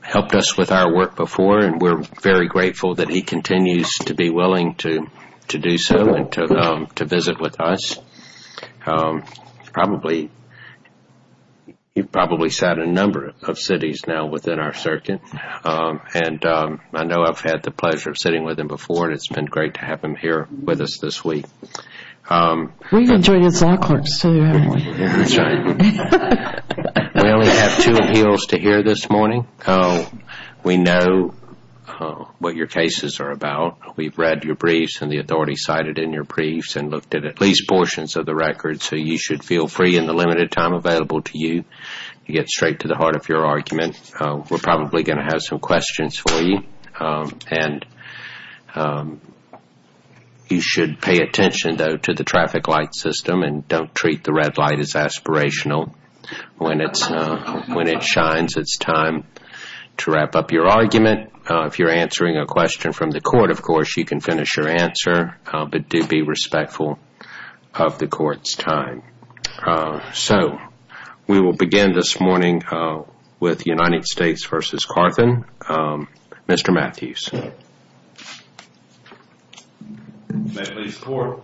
helped us with our work before, and we're very grateful that he continues to be willing to do so and to visit with us. He's probably sat in a number of cities now within our circuit, and I know I've had the pleasure of sitting with him before, and it's been great to have him here with us this week. We've enjoyed his accolades, too, haven't we? That's right. We only have two appeals to hear this morning. We know what your cases are about. We've read your briefs and the authority cited in your briefs and looked at at least portions of the records, so you should feel free in the limited time available to you to get straight to the heart of your argument. We're probably going to have some questions for you, and you should pay attention, though, to the traffic light system and don't treat the red light as aspirational. When it shines, it's time to wrap up your argument. If you're answering a question from the court, of course, you can finish your answer, but do be respectful of the court's time. So we will begin this morning with United States v. Carthen. Mr. Matthews. May it please the court.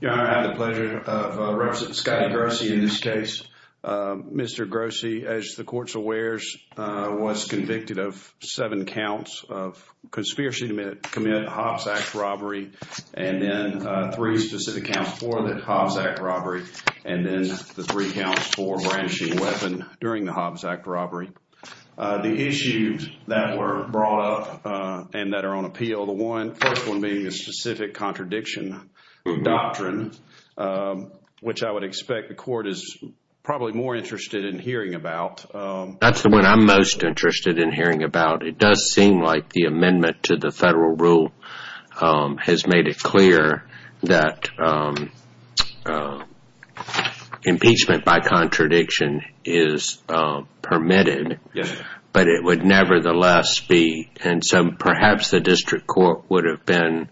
Your Honor, I have the pleasure of representing Scotty Grossi in this case. Mr. Grossi, as the court's aware, was convicted of seven counts of conspiracy to commit a Hobbs Act robbery, and then three specific counts for the Hobbs Act robbery, and then the three counts for brandishing a weapon during the Hobbs Act robbery. The issues that were brought up and that are on appeal, the first one being the specific contradiction doctrine, which I would expect the court is probably more interested in hearing about. That's the one I'm most interested in hearing about. It does seem like the amendment to it would nevertheless be, and so perhaps the district court would have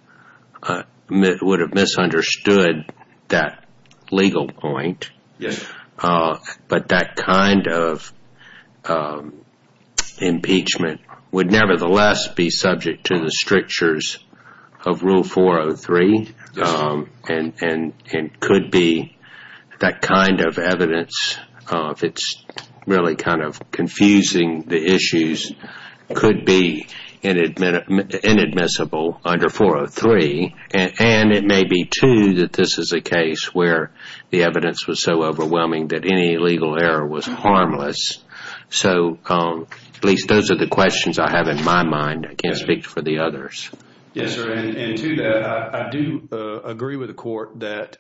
misunderstood that legal point, but that kind of impeachment would nevertheless be subject to the strictures of Rule 403, and could be that kind of evidence, if it's really kind of confusing the issues, could be inadmissible under 403, and it may be, too, that this is a case where the evidence was so overwhelming that any legal error was harmless. So at least those are the questions I have in my mind. I can't speak for the others. Yes, sir. And to that, I do agree with the court that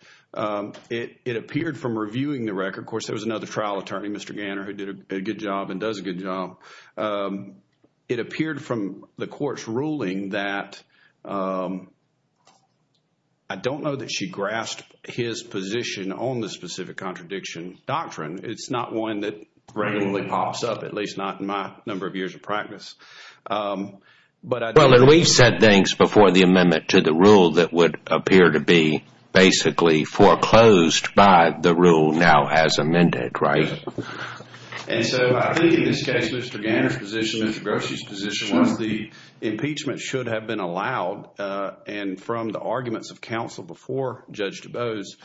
it appeared from reviewing the record, of course, there was another trial attorney, Mr. Ganner, who did a good job and does a good job. It appeared from the court's ruling that I don't know that she grasped his position on the specific contradiction doctrine. It's not one that regularly pops up, at least not in my number of years of practice. Well, and we've said things before the amendment to the rule that would appear to be basically foreclosed by the rule now as amended, right? And so I think in this case, Mr. Ganner's position, Mr. Grossi's position was the impeachment should have been allowed, and from the arguments of counsel before Judge DuBose,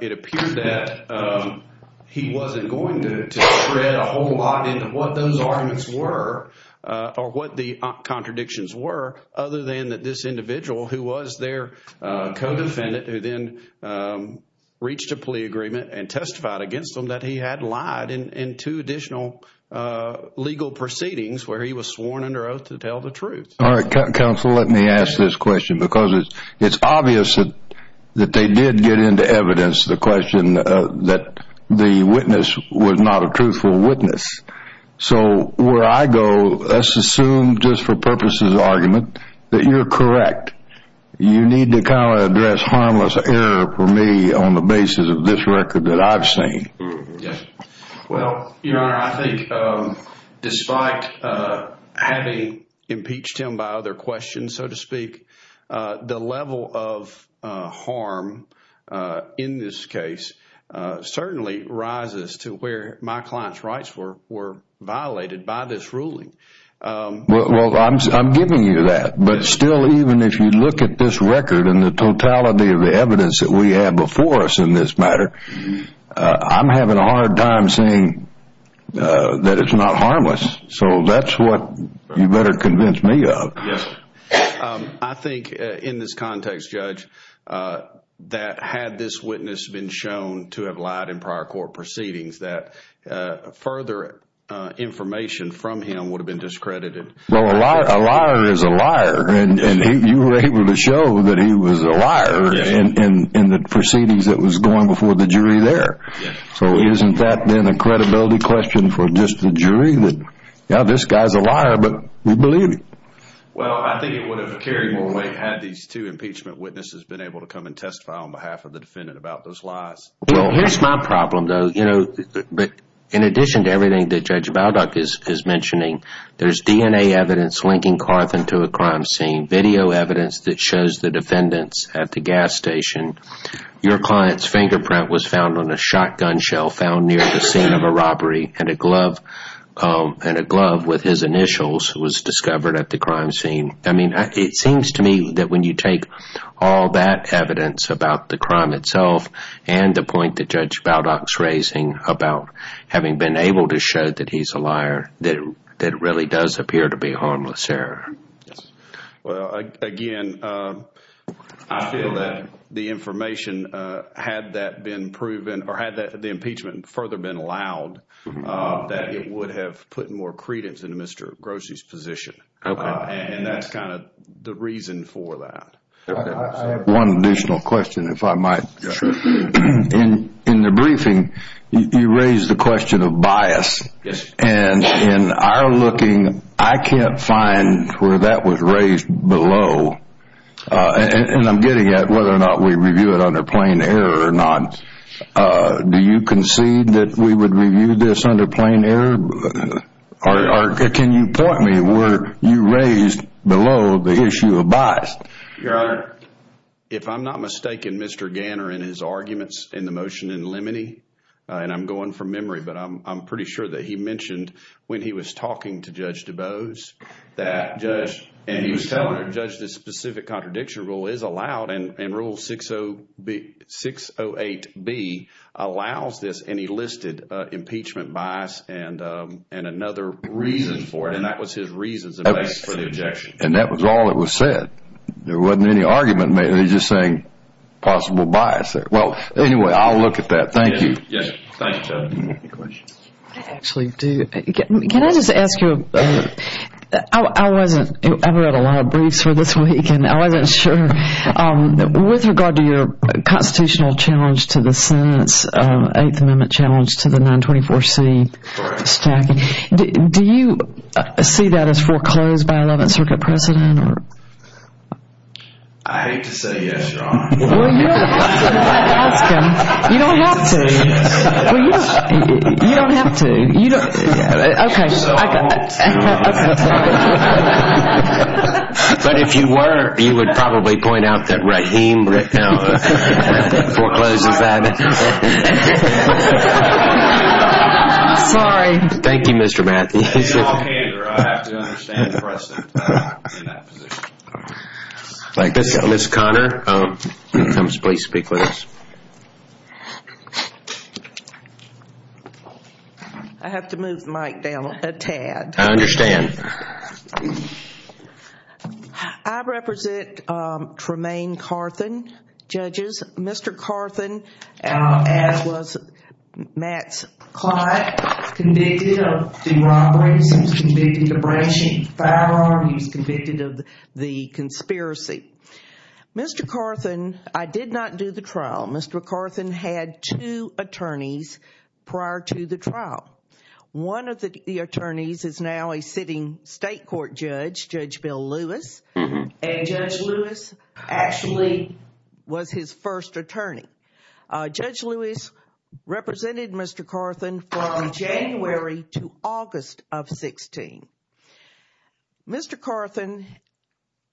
it appeared that he wasn't going to spread a whole lot into what those arguments were or what the contradictions were other than that this individual who was their co-defendant who then reached a plea agreement and testified against him that he had lied in two additional legal proceedings where he was sworn under oath to tell the truth. All right, counsel, let me ask this question because it's obvious that they did get into evidence the question that the witness was not a truthful witness. So where I go, let's assume just for purposes of argument that you're correct. You need to kind of address harmless error for me on the basis of this record that I've seen. Yes. Well, Your Honor, I think despite having impeached him by other questions, so to speak, the level of harm in this case certainly rises to where my client's rights were violated by this ruling. Well, I'm giving you that. But still, even if you look at this record and the totality of the evidence that we have before us in this matter, I'm having a hard time saying that it's not harmless. So that's what you better convince me of. Yes. I think in this context, Judge, that had this witness been shown to have lied in prior court proceedings, that further information from him would have been discredited. Well, a liar is a liar. And you were able to show that he was a liar in the proceedings that was going before the jury there. So isn't that then a credibility question for just the jury that, yeah, this guy's a liar, but we believe him? Well, I think it would have carried more weight had these two impeachment witnesses been able to come and testify on behalf of the defendant about those lies. Here's my problem, though. But in addition to everything that Judge Baldock is mentioning, there's DNA evidence linking Carthan to a crime scene, video evidence that shows the defendants at the gas station. Your client's fingerprint was found on a shotgun shell found near the scene of a robbery, and a glove with his initials was discovered at the crime scene. I mean, it seems to me that when you take all that evidence about the crime itself and the point that Judge Baldock's raising about having been able to show that he's a liar, that it really does appear to be harmless error. Yes. Well, again, I feel that the information, had that been proven or had the impeachment further been allowed, that it would have put more credence into Mr. Grossi's position. And that's kind of the reason for that. I have one additional question, if I might. In the briefing, you raised the question of bias. And in our looking, I can't find where that was raised below. And I'm getting at whether or not we review it under plain error or not. Do you concede that we would review this under plain error? Or can you point me where you raised below the issue of bias? Your Honor, if I'm not mistaken, Mr. Ganner and his arguments in the motion in limine, and I'm going from memory, but I'm pretty sure that he mentioned when he was talking to Judge DuBose, and he was telling her, Judge, this specific contradiction rule is allowed and rule 608B allows this. And he listed impeachment bias and another reason for it. And that was his reasons for the objection. And that was all that was said. There wasn't any argument made. He's just saying possible bias there. Well, anyway, I'll look at that. Thank you. Thank you, Judge. Any questions? I actually do. Can I just ask you, I wasn't, I've read a lot of briefs for this week, and I wasn't sure. With regard to your constitutional challenge to the Senate's 8th Amendment challenge to the 924C stacking, do you see that as foreclosed by 11th Circuit precedent? I hate to say yes, Your Honor. Well, you don't have to if I ask him. You don't have to. You don't have to. Okay. But if you were, you would probably point out that Raheem right now forecloses that. Sorry. Thank you, Mr. Matthews. I have to move the mic down a tad. I understand. I represent Tremaine Carthan, judges. Mr. Carthan, as was Max Clyde, convicted of derobberies. He was convicted of abrasion, foul art. He was convicted of the conspiracy. Mr. Carthan, I did not do the trial. Mr. Carthan had two attorneys prior to the trial. One of the attorneys is now a sitting state court judge, Judge Bill Lewis. And Judge Lewis actually was his first attorney. Judge Lewis represented Mr. Carthan from January to August of 16. Mr. Carthan,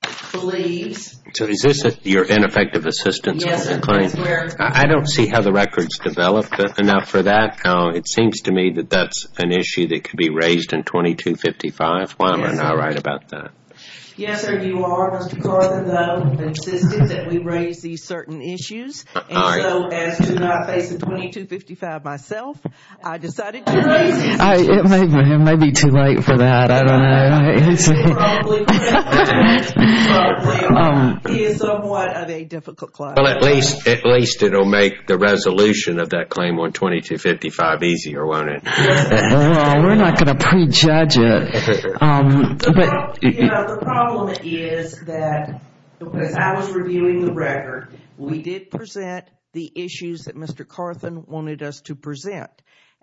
please. So, is this your ineffective assistance? Yes, sir. I don't see how the record's developed enough for that. It seems to me that that's an issue that could be raised in 2255. Why am I not right about that? Yes, sir. You are, Mr. Carthan, though, insistent that we raise these certain issues. All right. So, as to not face a 2255 myself, I decided to raise it. All right. It may be too late for that. I don't know. He is somewhat of a difficult client. Well, at least it'll make the resolution of that claim on 2255 easier, won't it? We're not going to prejudge it. But, you know, the problem is that as I was reviewing the record, we did present the issues that Mr. Carthan wanted us to present.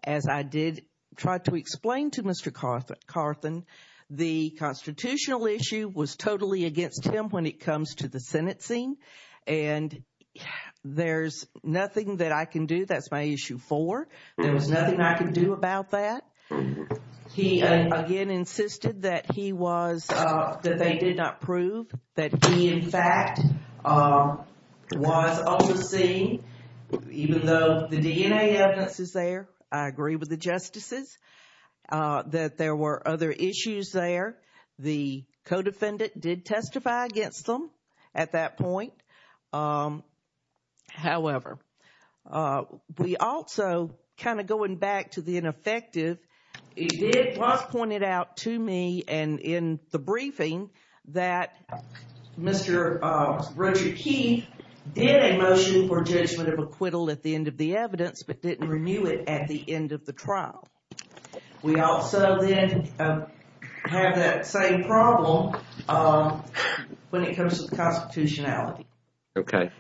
As I did try to explain to Mr. Carthan, the constitutional issue was totally against him when it comes to the sentencing. And there's nothing that I can do. That's my issue four. There was nothing I can do about that. He, again, insisted that he was, that they did not prove that he, in fact, was on the scene, even though the DNA evidence is there. I agree with the justices that there were other issues there. The co-defendant did testify against them at that point. However, we also, kind of going back to the ineffective, it was pointed out to me and in the briefing that Mr. Richard Keith did a motion for judgment of acquittal at the end of the evidence, but didn't renew it at the end of the trial. We also then have that same problem when it comes to the constitutionality. Okay.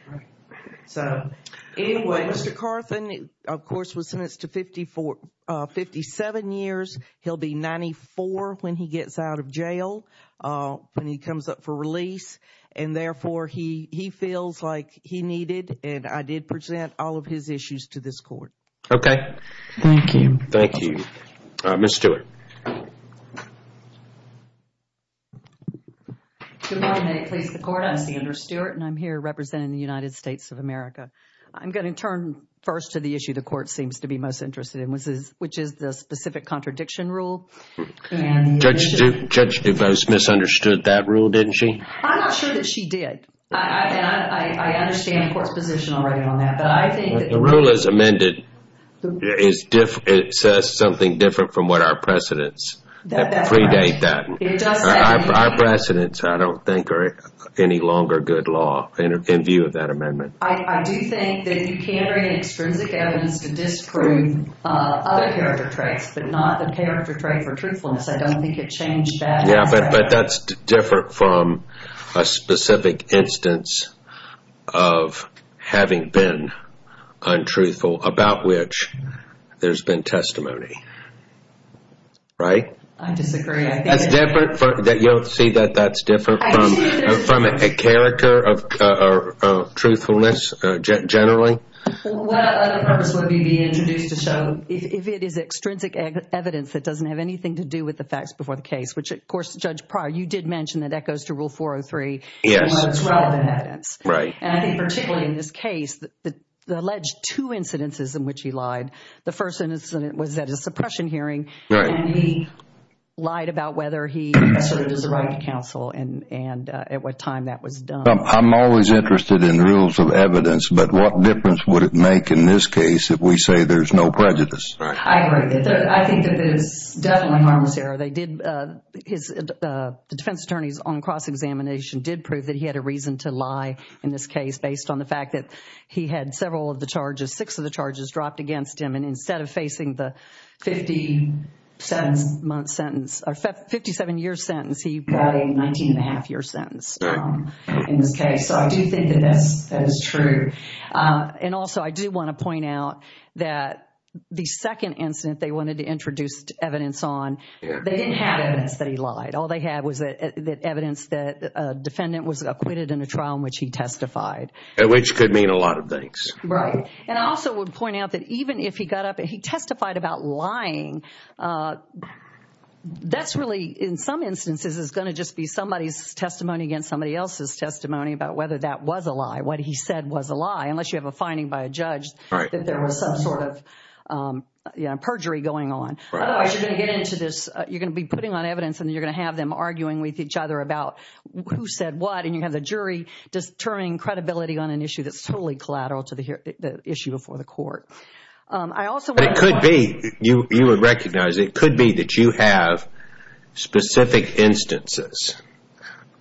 So, anyway, Mr. Carthan, of course, was sentenced to 57 years. He'll be 94 when he gets out of jail, when he comes up for release. And therefore, he feels like he needed, and I did present all of his issues to this court. Okay. Thank you. Thank you. Ms. Stewart. Good morning. May it please the court, I'm Sandra Stewart and I'm here representing the United States of America. I'm going to turn first to the issue the court seems to be most interested in, which is the specific contradiction rule. Judge DeVos misunderstood that rule, didn't she? I'm not sure that she did. I understand the court's position already on that, but I think the rule as amended, it says something different from what our precedents predate that. Our precedents, I don't think, are any longer good law in view of that amendment. I do think that you can bring in extrinsic evidence to disprove other character traits, but not the character trait for truthfulness. I don't think it changed that. But that's different from a specific instance of having been untruthful about which there's been testimony. Right? I disagree. You don't see that that's different from a character of truthfulness generally? What other purpose would we be introduced to show if it is extrinsic evidence that doesn't have anything to do with the facts before the case, which, of course, Judge Pryor, you did mention that that goes to Rule 403. Yes. It's relevant evidence. Right. And I think particularly in this case, the alleged two incidences in which he lied, the first incident was at a suppression hearing. Right. And he lied about whether he asserted his right to counsel and at what time that was done. I'm always interested in rules of evidence, but what difference would it make in this case if we say there's no prejudice? I agree. I think that it is definitely harmless error. The defense attorneys on cross-examination did prove that he had a reason to lie in this case based on the fact that he had several of the charges, six of the charges dropped against him. And instead of facing the 57-year sentence, he got a 19-and-a-half-year sentence in this case. So I do think that that is true. And also, I do want to point out that the second incident they wanted to introduce evidence on, they didn't have evidence that he lied. All they had was evidence that a defendant was acquitted in a trial in which he testified. Which could mean a lot of things. Right. And I also would point out that even if he got up and he testified about lying, that's really, in some instances, is going to just be somebody's testimony against somebody else's testimony about whether that was a lie, what he said was a lie. Unless you have a finding by a judge that there was some sort of perjury going on. Otherwise, you're going to get into this, you're going to be putting on evidence and you're going to have them arguing with each other about who said what. And you have the jury determining credibility on an issue that's totally collateral to the issue before the court. But it could be, you would recognize, it could be that you have specific instances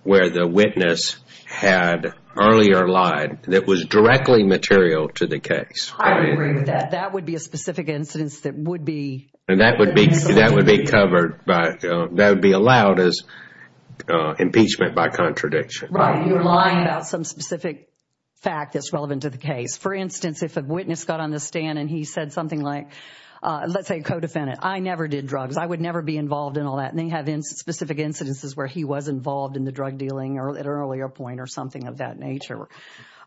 where the witness had earlier lied that was directly material to the case. I agree with that. That would be a specific incidence that would be... And that would be covered by, that would be allowed as impeachment by contradiction. Right. You're lying about some specific fact that's relevant to the case. For instance, if a witness got on the stand and he said something like, let's say a co-defendant, I never did drugs, I would never be involved in all that. And they have specific incidences where he was involved in the drug dealing at an earlier point or something of that nature.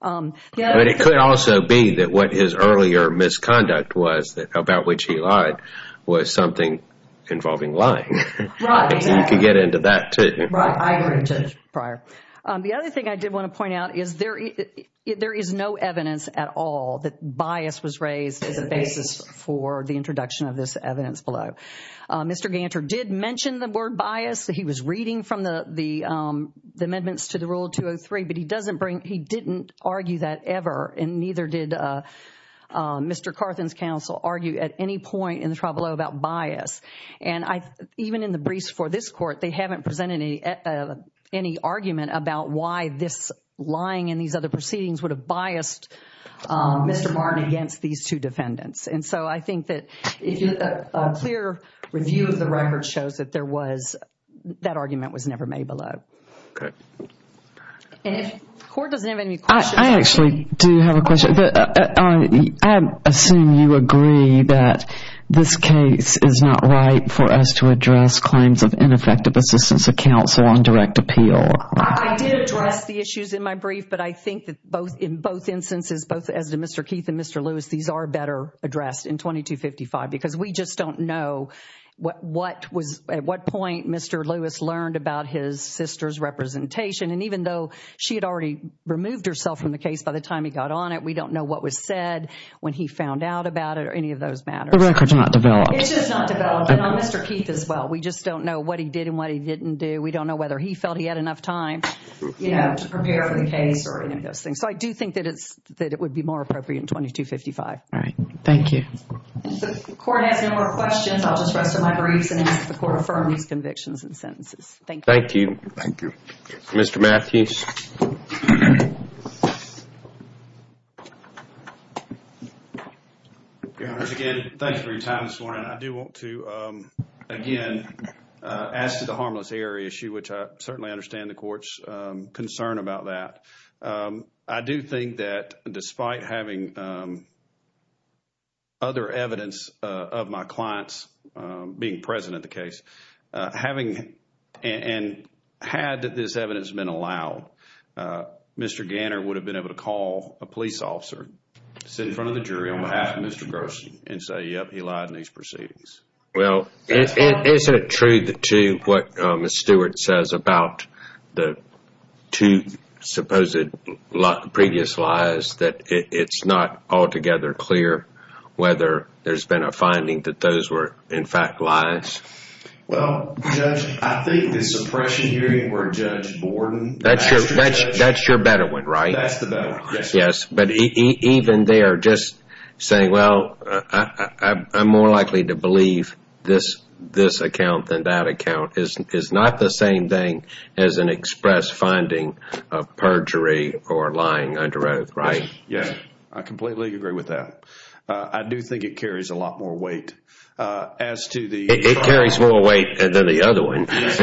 But it could also be that what his earlier misconduct was, about which he lied, was something involving lying. Right. You could get into that too. Right. I agree with Judge Breyer. The other thing I did want to point out is there is no evidence at all that bias was raised as a basis for the introduction of this evidence below. Mr. Ganter did mention the word bias. He was reading from the amendments to the Rule 203, but he doesn't bring, he didn't argue that ever. And neither did Mr. Carthen's counsel argue at any point in the trial below about bias. And even in the briefs for this court, they haven't presented any argument about why this lying and these other proceedings would have biased Mr. Martin against these two defendants. And so I think that if a clear review of the record shows that there was, that argument was never made below. Okay. And if the court doesn't have any questions. I actually do have a question. I assume you agree that this case is not right for us to address claims of ineffective assistance of counsel on direct appeal. I did address the issues in my brief. But I think that in both instances, both as to Mr. Keith and Mr. Lewis, these are better addressed in 2255 because we just don't know what was, at what point Mr. Lewis learned about his sister's representation. And even though she had already removed herself from the case by the time he got on it, we don't know what was said when he found out about it or any of those matters. The record's not developed. It's just not developed. And on Mr. Keith as well. We just don't know what he did and what he didn't do. We don't know whether he felt he had enough time, you know, to prepare for the case or any of those things. So I do think that it's, that it would be more appropriate in 2255. All right. Thank you. If the court has no more questions, I'll just rest on my briefs and ask the court to affirm these convictions and sentences. Thank you. Thank you. Thank you. Mr. Matthews. Your Honor, again, thanks for your time this morning. I do want to, again, ask the harmless error issue, which I certainly understand the court's concern about that. I do think that despite having other evidence of my clients being present at the case, having and had this evidence been allowed, Mr. Ganner would have been able to call a police officer, sit in front of the jury on behalf of Mr. Gerson, and say, yep, he lied in these proceedings. Well, is it true to what Ms. Stewart says about the two supposed previous lies, that it's not altogether clear whether there's been a finding that those were, in fact, lies? Well, Judge, I think the suppression hearing where Judge Borden- That's your better one, right? That's the better one, yes. Yes. Even there, just saying, well, I'm more likely to believe this account than that account is not the same thing as an express finding of perjury or lying under oath, right? Yes. I completely agree with that. I do think it carries a lot more weight as to the- It carries more weight than the other one. And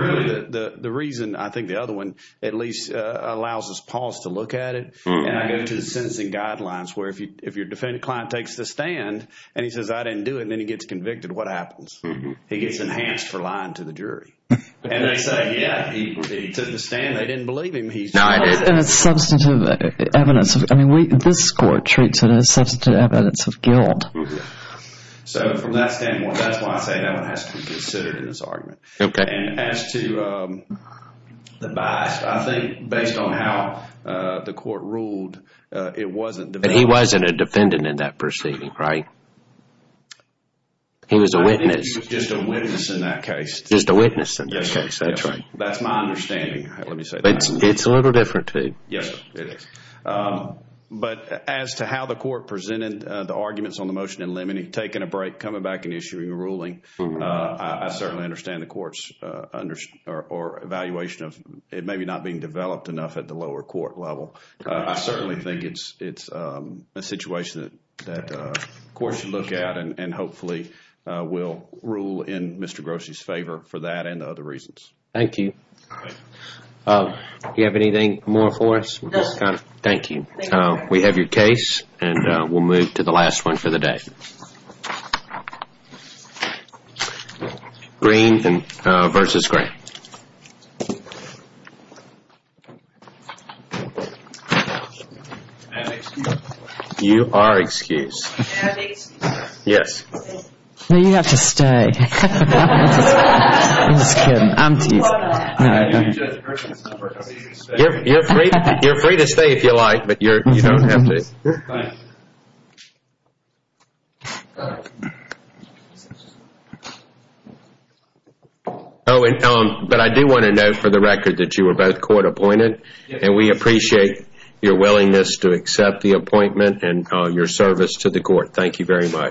really, the reason I think the other one at least allows us pause to look at it, and I go to the sentencing guidelines where if your defendant client takes the stand, and he says, I didn't do it, and then he gets convicted, what happens? He gets enhanced for lying to the jury. And they say, yeah, he took the stand. They didn't believe him. And it's substantive evidence. I mean, this court treats it as substantive evidence of guilt. So from that standpoint, that's why I say that one has to be considered in this argument. Okay. And as to the bias, I think based on how the court ruled, it wasn't- He wasn't a defendant in that proceeding, right? He was a witness. Just a witness in that case. Just a witness in this case, that's right. That's my understanding. Let me say that. It's a little different too. Yes, it is. But as to how the court presented the arguments on the motion in Lemony, taking a break, coming back and issuing a ruling, I certainly understand the court's evaluation of it maybe not being developed enough at the lower court level. I certainly think it's a situation that the court should look at, and hopefully will rule in Mr. Grossi's favor for that and the other reasons. Thank you. Do you have anything more for us? Thank you. We have your case, and we'll move to the last one for the day. Green versus Gray. You are excused. Yes. No, you have to stay. I'm just kidding. I'm teasing. You're free. You're free to stay if you like, but you don't have to. But I do want to note for the record that you were both court appointed, and we appreciate your willingness to accept the appointment and your service to the court. Thank you very much.